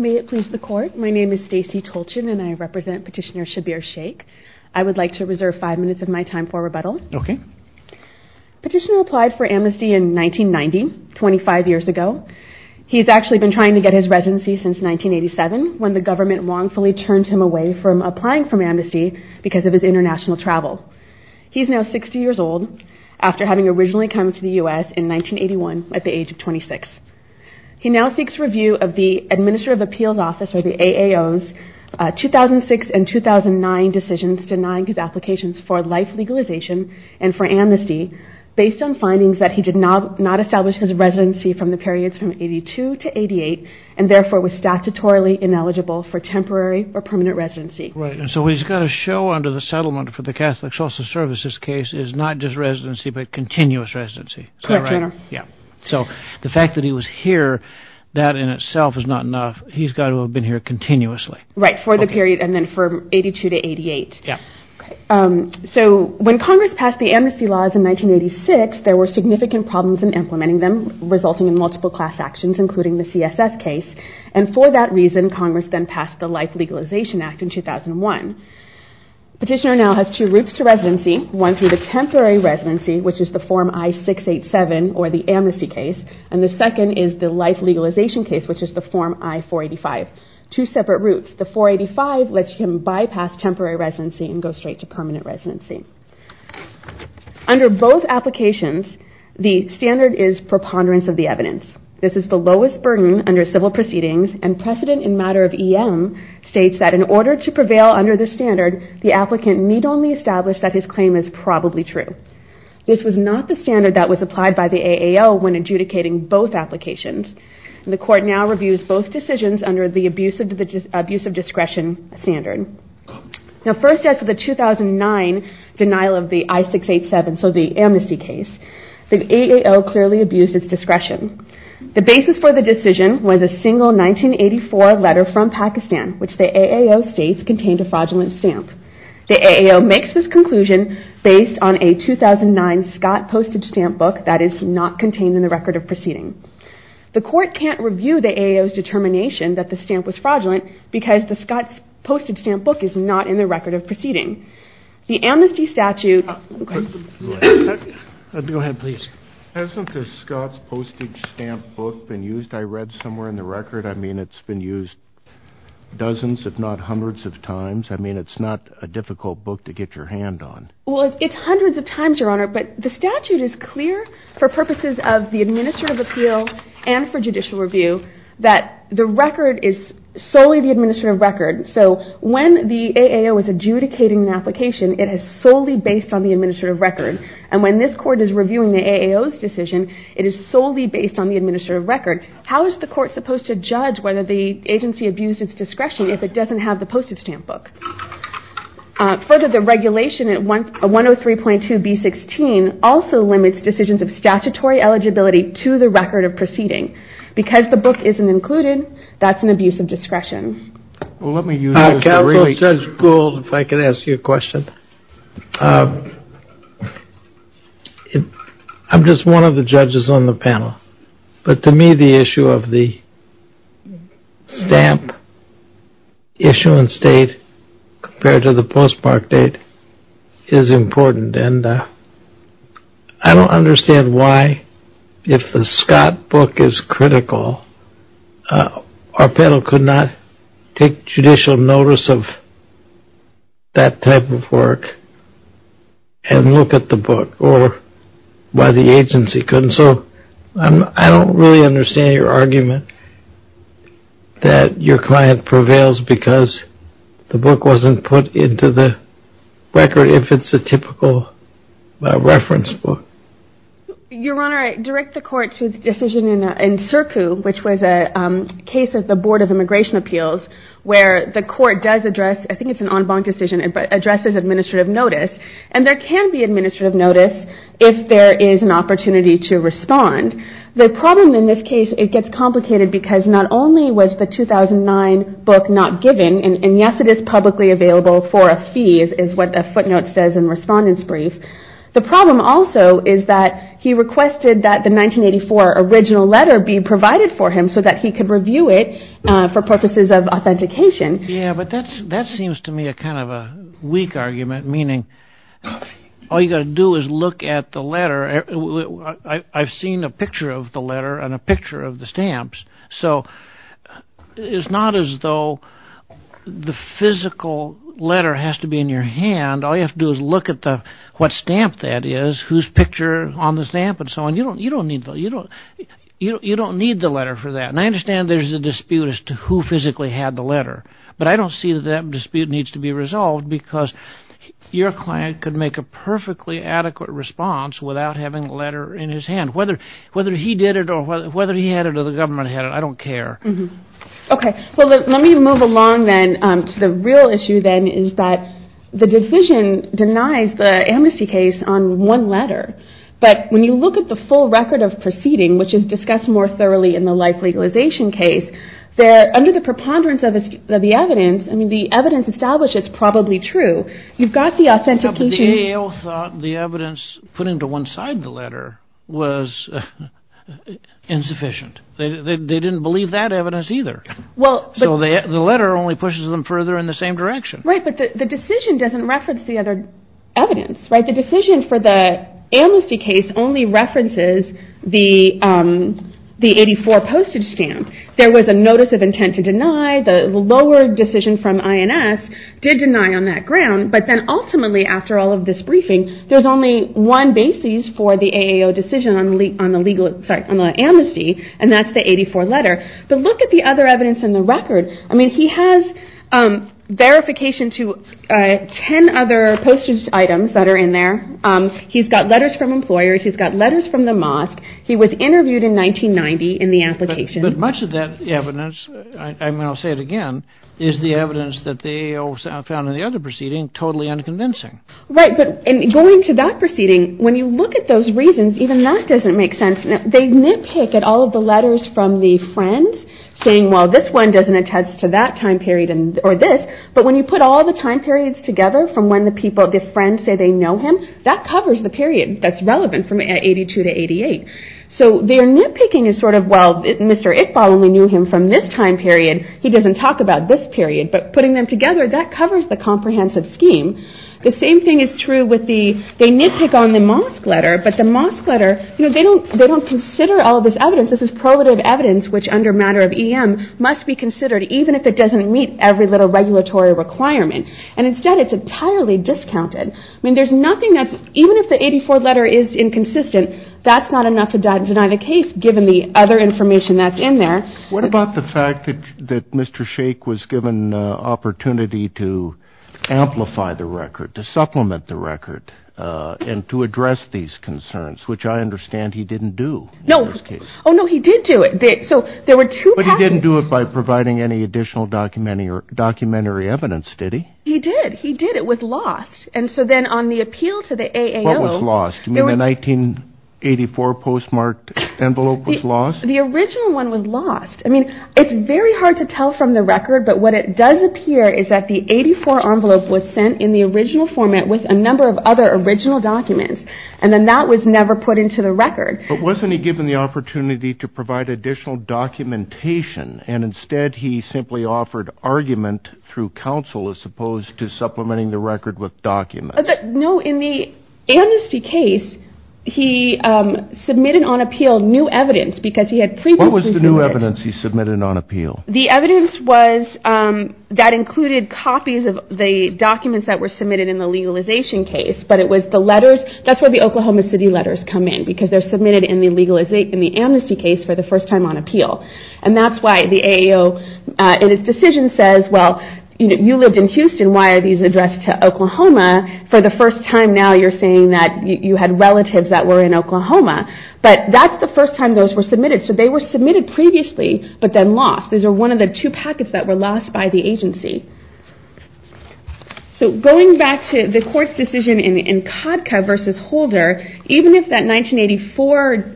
May it please the Court, my name is Stacey Tolchin and I represent Petitioner Shabbir Shaikh. I would like to reserve five minutes of my time for rebuttal. Petitioner applied for amnesty in 1990, 25 years ago. He's actually been trying to get his residency since 1987, when the government wrongfully turned him away from applying for amnesty because of his international travel. He's now 60 years old, after having originally come to the U.S. in 1981 at the age of 26. He now seeks review of the Administrative Appeals Office, or the AAO's, 2006 and 2009 decisions denying his applications for life legalization and for amnesty, based on findings that he did not establish his residency from the periods from 1982 to 1988, and therefore was statutorily ineligible for temporary or permanent residency. Right, and so what he's got to show under the settlement for the Catholic Social Services case is not just residency, but continuous residency. Correct, Your Honor. Yeah, so the fact that he was here, that in itself is not enough. He's got to have been here continuously. Right, for the period, and then from 1982 to 1988. Yeah. So when Congress passed the amnesty laws in 1986, there were significant problems in implementing them, resulting in multiple class actions, including the CSS case, and for that reason, Congress then passed the Life Legalization Act in 2001. Petitioner now has two routes to residency, one through the temporary residency, which is the Form I-687, or the amnesty case, and the second is the life legalization case, which is the Form I-485. Two separate routes. The 485 lets him bypass temporary residency and go straight to permanent residency. Under both applications, the standard is preponderance of the evidence. This is the lowest burden under civil proceedings, and precedent in matter of EM states that in order to prevail under this standard, the applicant need only establish that his claim is probably true. This was not the standard that was applied by the AAL when adjudicating both applications, and the court now reviews both decisions under the abuse of discretion standard. Now first as to the 2009 denial of the I-687, so the amnesty case, the AAL clearly abused its discretion. The basis for the decision was a single 1984 letter from Pakistan, which the AAL states contained a fraudulent stamp. The AAL makes this conclusion based on a 2009 Scott postage stamp book that is not contained in the record of proceeding. The court can't review the AAL's determination that the stamp was fraudulent because the Scott's postage stamp book is not in the record of proceeding. The amnesty statute... Go ahead, please. Hasn't the Scott's postage stamp book been used? I read somewhere in the record. I mean, it's been used dozens if not hundreds of times. I mean, it's not a difficult book to get your hand on. Well, it's hundreds of times, Your Honor, but the statute is clear for purposes of the administrative appeal and for judicial review that the record is solely the administrative record. So when the AAL is adjudicating an application, it is solely based on the administrative record. And when this court is reviewing the AAL's decision, it is solely based on the administrative record. How is the court supposed to judge whether the agency abused its discretion if it doesn't have the postage stamp book? Further, the regulation at 103.2B16 also limits decisions of statutory eligibility to the record of proceeding. Because the book isn't included, that's an abuse of discretion. Counsel Judge Gould, if I could ask you a question. I'm just one of the judges on the panel. But to me, the issue of the stamp issuance date compared to the postmark date is important. And I don't understand why, if the Scott book is critical, our panel could not take judicial notice of that type of work and look at the book or why the agency couldn't. So I don't really understand your argument that your client prevails because the book wasn't put into the record if it's a typical reference book. Your Honor, I direct the court to the decision in CIRCU, which was a case of the Board of Immigration Appeals, where the court does address, I think it's an en banc decision, addresses administrative notice. And there can be administrative notice if there is an opportunity to respond. The problem in this case, it gets complicated because not only was the 2009 book not given, and yes, it is publicly available for a fee, is what the footnote says in Respondent's Brief. The problem also is that he requested that the 1984 original letter be provided for him so that he could review it for purposes of authentication. Yeah, but that seems to me a kind of a weak argument, meaning all you've got to do is look at the letter. I've seen a picture of the letter and a picture of the stamps. So it's not as though the physical letter has to be in your hand. All you have to do is look at what stamp that is, whose picture on the stamp and so on. You don't need the letter for that. And I understand there's a dispute as to who physically had the letter, but I don't see that that dispute needs to be resolved because your client could make a perfectly adequate response without having the letter in his hand. Whether he did it or whether he had it or the government had it, I don't care. Okay, well let me move along then to the real issue then is that the decision denies the amnesty case on one letter. But when you look at the full record of proceeding, which is discussed more thoroughly in the life legalization case, under the preponderance of the evidence, the evidence established is probably true. You've got the authentication. But the AO thought the evidence put into one side of the letter was insufficient. They didn't believe that evidence either. So the letter only pushes them further in the same direction. Right, but the decision doesn't reference the other evidence. The decision for the amnesty case only references the 84 postage stamp. There was a notice of intent to deny. The lower decision from INS did deny on that ground. But then ultimately after all of this briefing, there's only one basis for the AO decision on the amnesty, and that's the 84 letter. But look at the other evidence in the record. I mean, he has verification to 10 other postage items that are in there. He's got letters from employers. He's got letters from the mosque. He was interviewed in 1990 in the application. But much of that evidence, and I'll say it again, is the evidence that the AO found in the other proceeding totally unconvincing. Right, but going to that proceeding, when you look at those reasons, even that doesn't make sense. They nitpick at all of the letters from the friends saying, well, this one doesn't attest to that time period or this. But when you put all the time periods together from when the friends say they know him, that covers the period that's relevant from 82 to 88. So their nitpicking is sort of, well, Mr. Iqbal only knew him from this time period. He doesn't talk about this period. But putting them together, that covers the comprehensive scheme. The same thing is true with the, they nitpick on the mosque letter, but the mosque letter, they don't consider all of this evidence. This is probative evidence, which under matter of EM must be considered, even if it doesn't meet every little regulatory requirement. And instead, it's entirely discounted. I mean, there's nothing that's, even if the 84 letter is inconsistent, that's not enough to deny the case, given the other information that's in there. What about the fact that Mr. Sheikh was given an opportunity to amplify the record, to supplement the record, and to address these concerns, which I understand he didn't do in this case. Oh, no, he did do it. But he didn't do it by providing any additional documentary evidence, did he? He did. He did. It was lost. And so then on the appeal to the AAO. What was lost? You mean the 1984 postmarked envelope was lost? The original one was lost. I mean, it's very hard to tell from the record, but what it does appear is that the 84 envelope was sent in the original format with a number of other original documents, and then that was never put into the record. But wasn't he given the opportunity to provide additional documentation, and instead he simply offered argument through counsel, as opposed to supplementing the record with documents? No, in the Amnesty case, he submitted on appeal new evidence, because he had previously submitted it. What was the new evidence he submitted on appeal? The evidence was that included copies of the documents that were submitted in the legalization case, but it was the letters. That's where the Oklahoma City letters come in, because they're submitted in the Amnesty case for the first time on appeal. And that's why the AAO, in its decision, says, well, you lived in Houston, why are these addressed to Oklahoma? For the first time now, you're saying that you had relatives that were in Oklahoma. But that's the first time those were submitted. So they were submitted previously, but then lost. These are one of the two packets that were lost by the agency. So going back to the court's decision in CODCA versus Holder, even if that 1984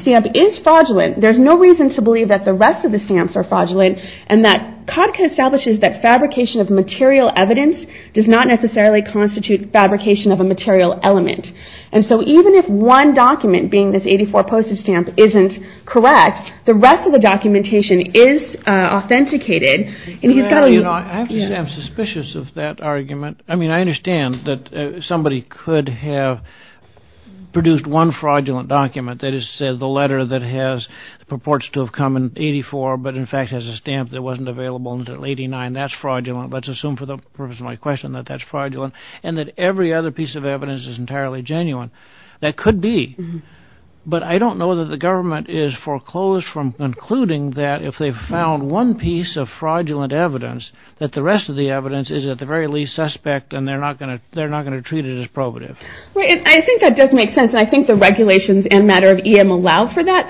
stamp is fraudulent, there's no reason to believe that the rest of the stamps are fraudulent, and that CODCA establishes that fabrication of material evidence does not necessarily constitute fabrication of a material element. And so even if one document, being this 1984 postage stamp, isn't correct, the rest of the documentation is authenticated. I'm suspicious of that argument. I mean, I understand that somebody could have produced one fraudulent document, that is to say the letter that purports to have come in 1984, but in fact has a stamp that wasn't available until 1989. That's fraudulent. Let's assume for the purpose of my question that that's fraudulent, and that every other piece of evidence is entirely genuine. That could be. But I don't know that the government is foreclosed from concluding that if they found one piece of fraudulent evidence, that the rest of the evidence is at the very least suspect, and they're not going to treat it as probative. I think that does make sense, and I think the regulations and matter of EM allow for that.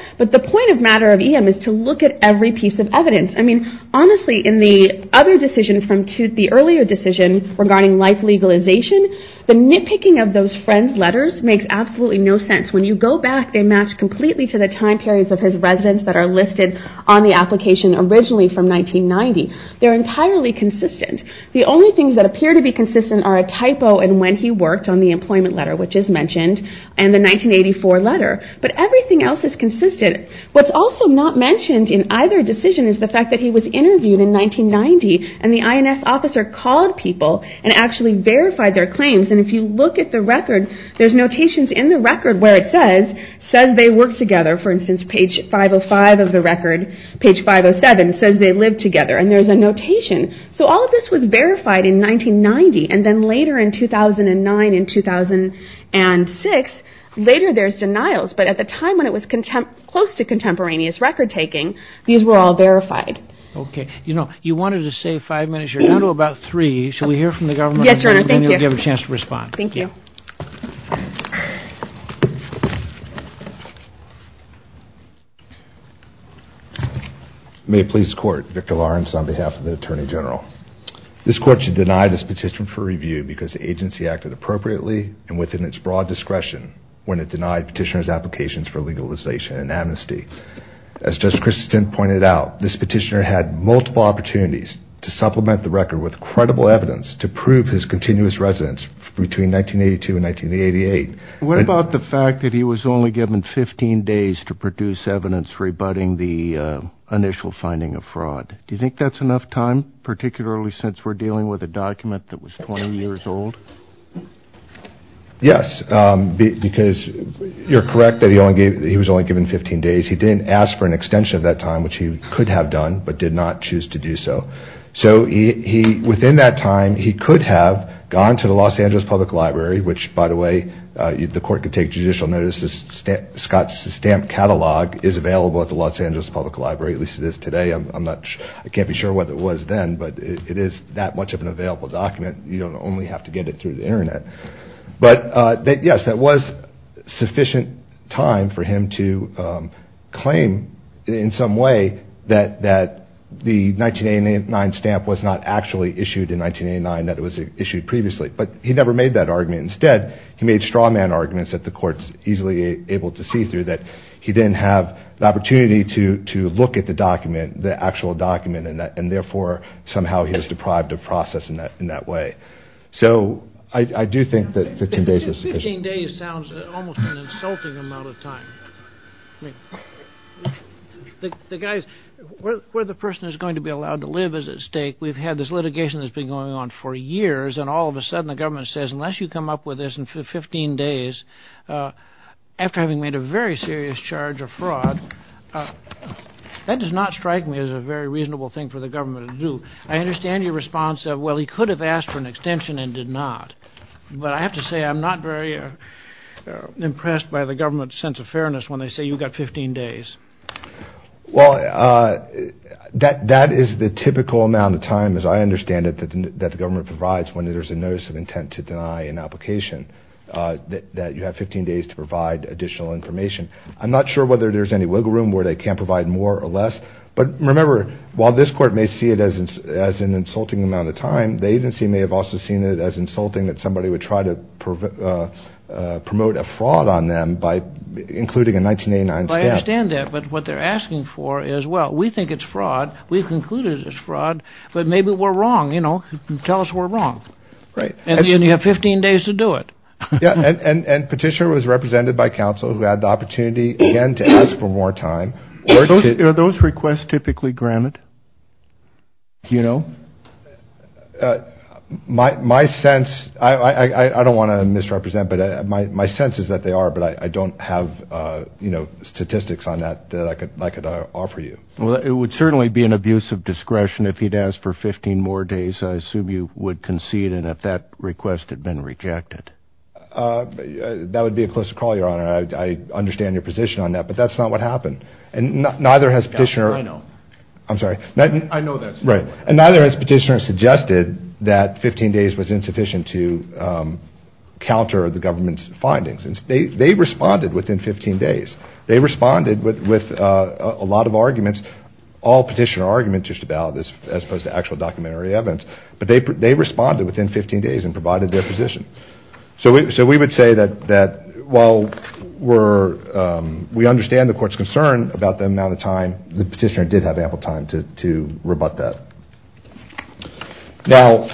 I mean, honestly, in the other decision from Tooth, the earlier decision regarding life legalization, the nitpicking of those friends' letters makes absolutely no sense. When you go back, they match completely to the time periods of his residence that are listed on the application originally from 1990. They're entirely consistent. The only things that appear to be consistent are a typo and when he worked on the employment letter, which is mentioned, and the 1984 letter. But everything else is consistent. What's also not mentioned in either decision is the fact that he was interviewed in 1990, and the INS officer called people and actually verified their claims. And if you look at the record, there's notations in the record where it says, says they worked together, for instance, page 505 of the record, page 507 says they lived together, and there's a notation. So all of this was verified in 1990, and then later in 2009 and 2006, later there's denials. But at the time when it was close to contemporaneous record-taking, these were all verified. Okay. You know, you wanted to say five minutes. You're down to about three. Should we hear from the government? Yes, Your Honor. Thank you. And then you'll have a chance to respond. Thank you. May it please the Court, Victor Lawrence on behalf of the Attorney General. This Court should deny this petition for review because the agency acted appropriately and within its broad discretion when it denied petitioner's applications for legalization and amnesty. As Justice Christensen pointed out, this petitioner had multiple opportunities to supplement the record with credible evidence to prove his continuous residence between 1982 and 1988. What about the fact that he was only given 15 days to produce evidence rebutting the initial finding of fraud? Do you think that's enough time, particularly since we're dealing with a document that was 20 years old? Yes, because you're correct that he was only given 15 days. He didn't ask for an extension of that time, which he could have done but did not choose to do so. So within that time, he could have gone to the Los Angeles Public Library, which, by the way, the Court could take judicial notice. Scott's stamp catalog is available at the Los Angeles Public Library, at least it is today. I can't be sure what it was then, but it is that much of an available document. You don't only have to get it through the Internet. But yes, that was sufficient time for him to claim in some way that the 1989 stamp was not actually issued in 1989, that it was issued previously. But he never made that argument. Instead, he made straw man arguments that the Court's easily able to see through, that he didn't have the opportunity to look at the document, the actual document, and therefore somehow he was deprived of process in that way. So I do think that 15 days is sufficient. 15 days sounds almost an insulting amount of time. The guy's – where the person is going to be allowed to live is at stake. We've had this litigation that's been going on for years, and all of a sudden the government says, unless you come up with this in 15 days, after having made a very serious charge of fraud, that does not strike me as a very reasonable thing for the government to do. I understand your response of, well, he could have asked for an extension and did not. But I have to say I'm not very impressed by the government's sense of fairness when they say you've got 15 days. Well, that is the typical amount of time, as I understand it, that the government provides when there's a notice of intent to deny an application, that you have 15 days to provide additional information. I'm not sure whether there's any wiggle room where they can't provide more or less. But remember, while this Court may see it as an insulting amount of time, the agency may have also seen it as insulting that somebody would try to promote a fraud on them by including a 1989 stamp. I understand that, but what they're asking for is, well, we think it's fraud. We've concluded it's fraud, but maybe we're wrong. Tell us we're wrong. And you have 15 days to do it. And Petitioner was represented by counsel who had the opportunity, again, to ask for more time. Are those requests typically granted? My sense, I don't want to misrepresent, but my sense is that they are, but I don't have statistics on that that I could offer you. Well, it would certainly be an abuse of discretion if he'd asked for 15 more days. I assume you would concede, and if that request had been rejected. That would be a closer call, Your Honor. I understand your position on that, but that's not what happened. And neither has Petitioner. I'm sorry. I know that's not what happened. Right. And neither has Petitioner suggested that 15 days was insufficient to counter the government's findings. They responded within 15 days. They responded with a lot of arguments, all Petitioner arguments just about this, as opposed to actual documentary evidence. But they responded within 15 days and provided their position. So we would say that while we understand the Court's concern about the amount of time, the Petitioner did have ample time to rebut that. Now,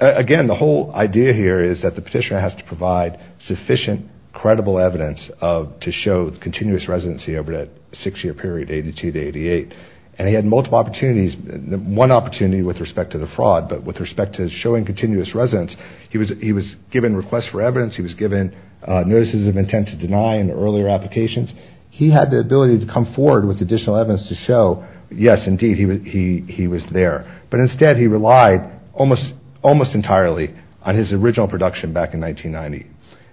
again, the whole idea here is that the Petitioner has to provide sufficient, credible evidence to show continuous residency over that six-year period, 1982 to 1988. And he had multiple opportunities. One opportunity with respect to the fraud, but with respect to showing continuous residence, he was given requests for evidence. He was given notices of intent to deny in earlier applications. He had the ability to come forward with additional evidence to show, yes, indeed, he was there. But instead, he relied almost entirely on his original production back in 1990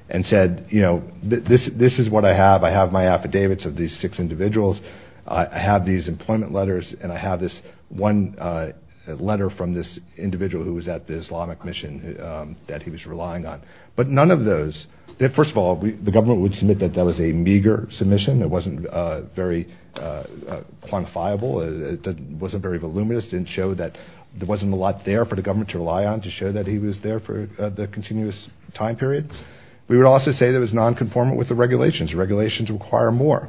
and said, you know, this is what I have. I have my affidavits of these six individuals. I have these employment letters. And I have this one letter from this individual who was at the Islamic mission that he was relying on. But none of those, first of all, the government would submit that that was a meager submission. It wasn't very quantifiable. It wasn't very voluminous. It didn't show that there wasn't a lot there for the government to rely on to show that he was there for the continuous time period. We would also say that it was nonconformant with the regulations. Regulations require more.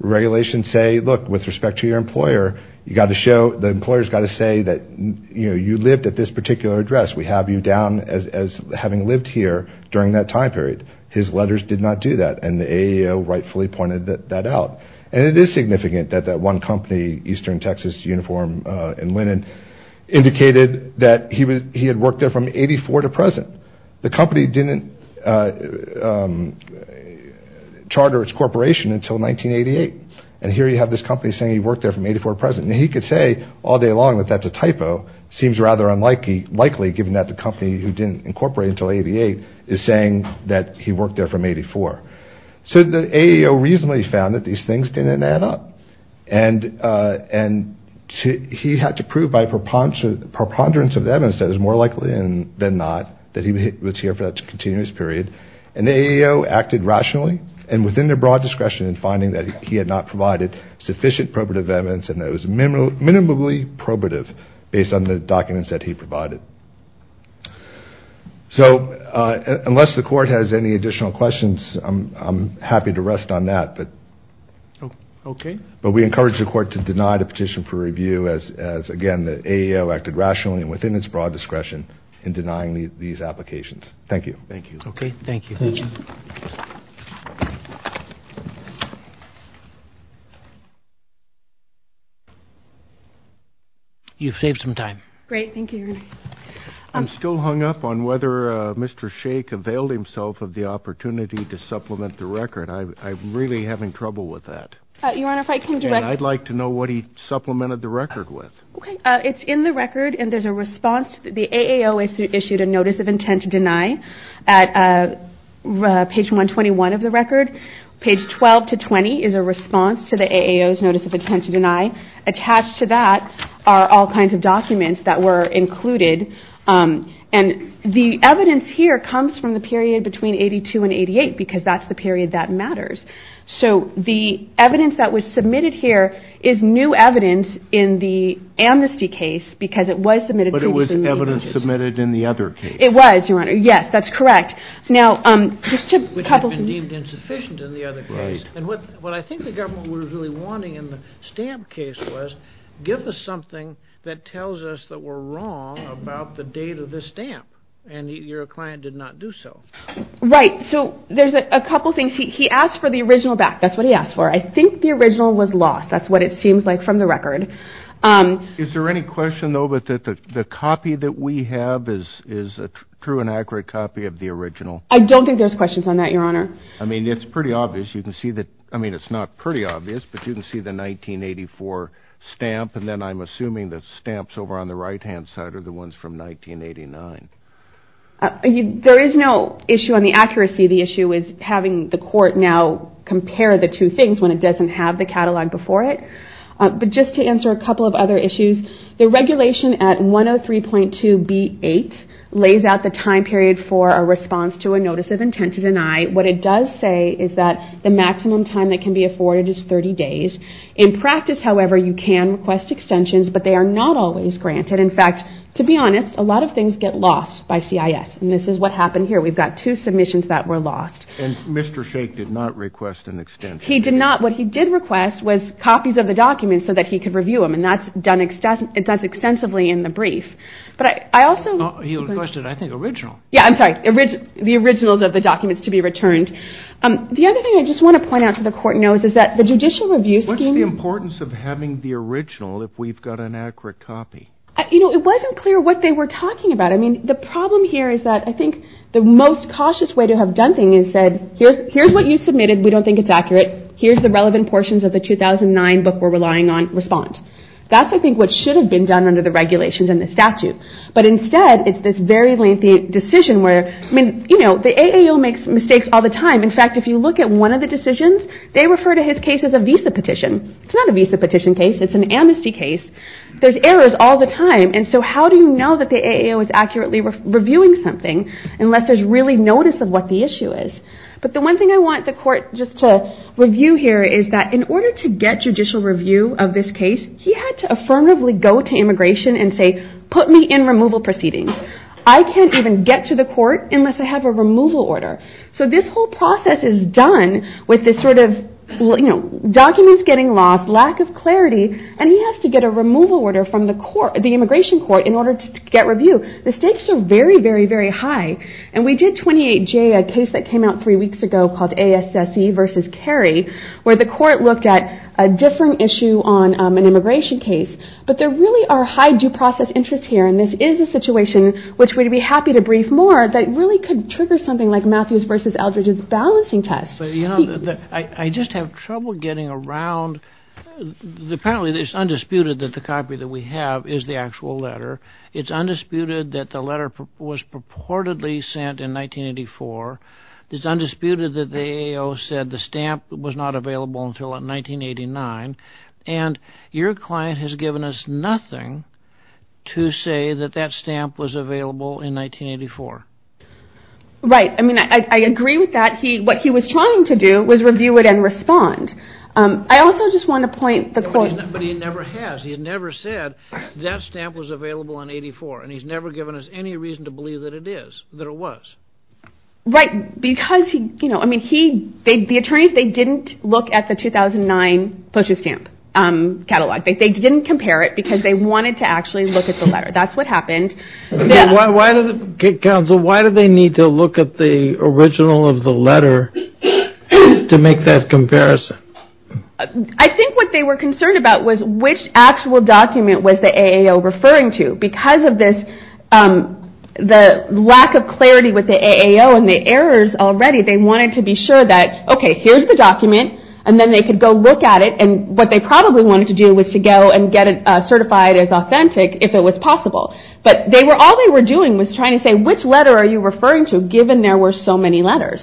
Regulations say, look, with respect to your employer, you've got to show, the employer's got to say that, you know, you lived at this particular address. We have you down as having lived here during that time period. His letters did not do that. And the AEO rightfully pointed that out. And it is significant that that one company, Eastern Texas Uniform and Linen, indicated that he had worked there from 84 to present. The company didn't charter its corporation until 1988. And here you have this company saying he worked there from 84 to present. And he could say all day long that that's a typo. It seems rather unlikely, given that the company who didn't incorporate until 88 is saying that he worked there from 84. So the AEO reasonably found that these things didn't add up. And he had to prove by preponderance of evidence that it was more likely than not that he was here for that continuous period. And the AEO acted rationally and within their broad discretion in finding that he had not provided sufficient probative evidence and that it was minimally probative based on the documents that he provided. So unless the court has any additional questions, I'm happy to rest on that. But we encourage the court to deny the petition for review as, again, the AEO acted rationally and within its broad discretion in denying these applications. Thank you. Thank you. You've saved some time. Great. Thank you. I'm still hung up on whether Mr. Shake availed himself of the opportunity to supplement the record. I'm really having trouble with that. Your Honor, if I can direct. I'd like to know what he supplemented the record with. It's in the record. The AEO issued a notice of intent to deny at page 121 of the record. Page 12 to 20 is a response to the AEO's notice of intent to deny. Attached to that are all kinds of documents that were included. And the evidence here comes from the period between 82 and 88 because that's the period that matters. So the evidence that was submitted here is new evidence in the amnesty case because it was submitted previously. But it was evidence submitted in the other case. It was, Your Honor. Yes, that's correct. Which had been deemed insufficient in the other case. Right. And what I think the government was really wanting in the stamp case was, give us something that tells us that we're wrong about the date of the stamp. And your client did not do so. Right. So there's a couple things. He asked for the original back. That's what he asked for. I think the original was lost. That's what it seems like from the record. Is there any question, though, that the copy that we have is a true and accurate copy of the original? I don't think there's questions on that, Your Honor. I mean, it's pretty obvious. You can see that, I mean, it's not pretty obvious, but you can see the 1984 stamp. And then I'm assuming the stamps over on the right-hand side are the ones from 1989. There is no issue on the accuracy. The issue is having the court now compare the two things when it doesn't have the catalog before it. But just to answer a couple of other issues, the regulation at 103.2B8 lays out the time period for a response to a notice of intent to deny. What it does say is that the maximum time that can be afforded is 30 days. In practice, however, you can request extensions, but they are not always granted. In fact, to be honest, a lot of things get lost by CIS. And this is what happened here. We've got two submissions that were lost. And Mr. Shake did not request an extension. He did not. What he did request was copies of the documents so that he could review them, and that's done extensively in the brief. But I also- He requested, I think, original. Yeah, I'm sorry, the originals of the documents to be returned. The other thing I just want to point out to the court notes is that the judicial review scheme- What's the importance of having the original if we've got an accurate copy? You know, it wasn't clear what they were talking about. I mean, the problem here is that I think the most cautious way to have done things is said, here's what you submitted. We don't think it's accurate. Here's the relevant portions of the 2009 book we're relying on. Respond. That's, I think, what should have been done under the regulations and the statute. But instead, it's this very lengthy decision where- I mean, you know, the AAO makes mistakes all the time. In fact, if you look at one of the decisions, they refer to his case as a visa petition. It's not a visa petition case. It's an amnesty case. There's errors all the time. And so how do you know that the AAO is accurately reviewing something unless there's really notice of what the issue is? But the one thing I want the court just to review here is that in order to get judicial review of this case, he had to affirmatively go to immigration and say, put me in removal proceedings. I can't even get to the court unless I have a removal order. So this whole process is done with this sort of, you know, documents getting lost, lack of clarity, and he has to get a removal order from the immigration court in order to get review. The stakes are very, very, very high. And we did 28J, a case that came out three weeks ago called ASSE v. Cary, where the court looked at a different issue on an immigration case. But there really are high due process interests here, and this is a situation which we'd be happy to brief more that really could trigger something like Matthews v. Eldridge's balancing test. I just have trouble getting around. Apparently it's undisputed that the copy that we have is the actual letter. It's undisputed that the letter was purportedly sent in 1984. It's undisputed that the AO said the stamp was not available until 1989. And your client has given us nothing to say that that stamp was available in 1984. Right. I mean, I agree with that. What he was trying to do was review it and respond. I also just want to point the court. But he never has. He's never said that stamp was available in 1984, and he's never given us any reason to believe that it is, that it was. Right, because he, you know, I mean, he, the attorneys, they didn't look at the 2009 postage stamp catalog. They didn't compare it because they wanted to actually look at the letter. That's what happened. Counsel, why did they need to look at the original of the letter to make that comparison? I think what they were concerned about was which actual document was the AO referring to. Because of this, the lack of clarity with the AO and the errors already, they wanted to be sure that, okay, here's the document, and then they could go look at it. And what they probably wanted to do was to go and get it certified as authentic if it was possible. But they were, all they were doing was trying to say, which letter are you referring to given there were so many letters?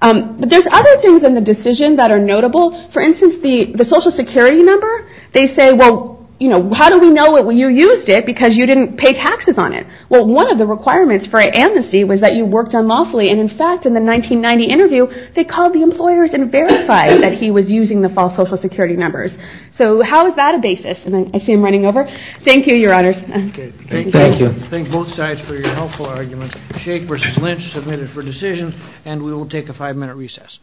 But there's other things in the decision that are notable. For instance, the Social Security number, they say, well, you know, how do we know that you used it because you didn't pay taxes on it? Well, one of the requirements for amnesty was that you worked unlawfully. And, in fact, in the 1990 interview, they called the employers and verified that he was using the false Social Security numbers. So how is that a basis? I see him running over. Thank you, Your Honors. Okay. Thank you. Thank both sides for your helpful arguments. Sheikh versus Lynch submitted for decision, and we will take a five-minute recess.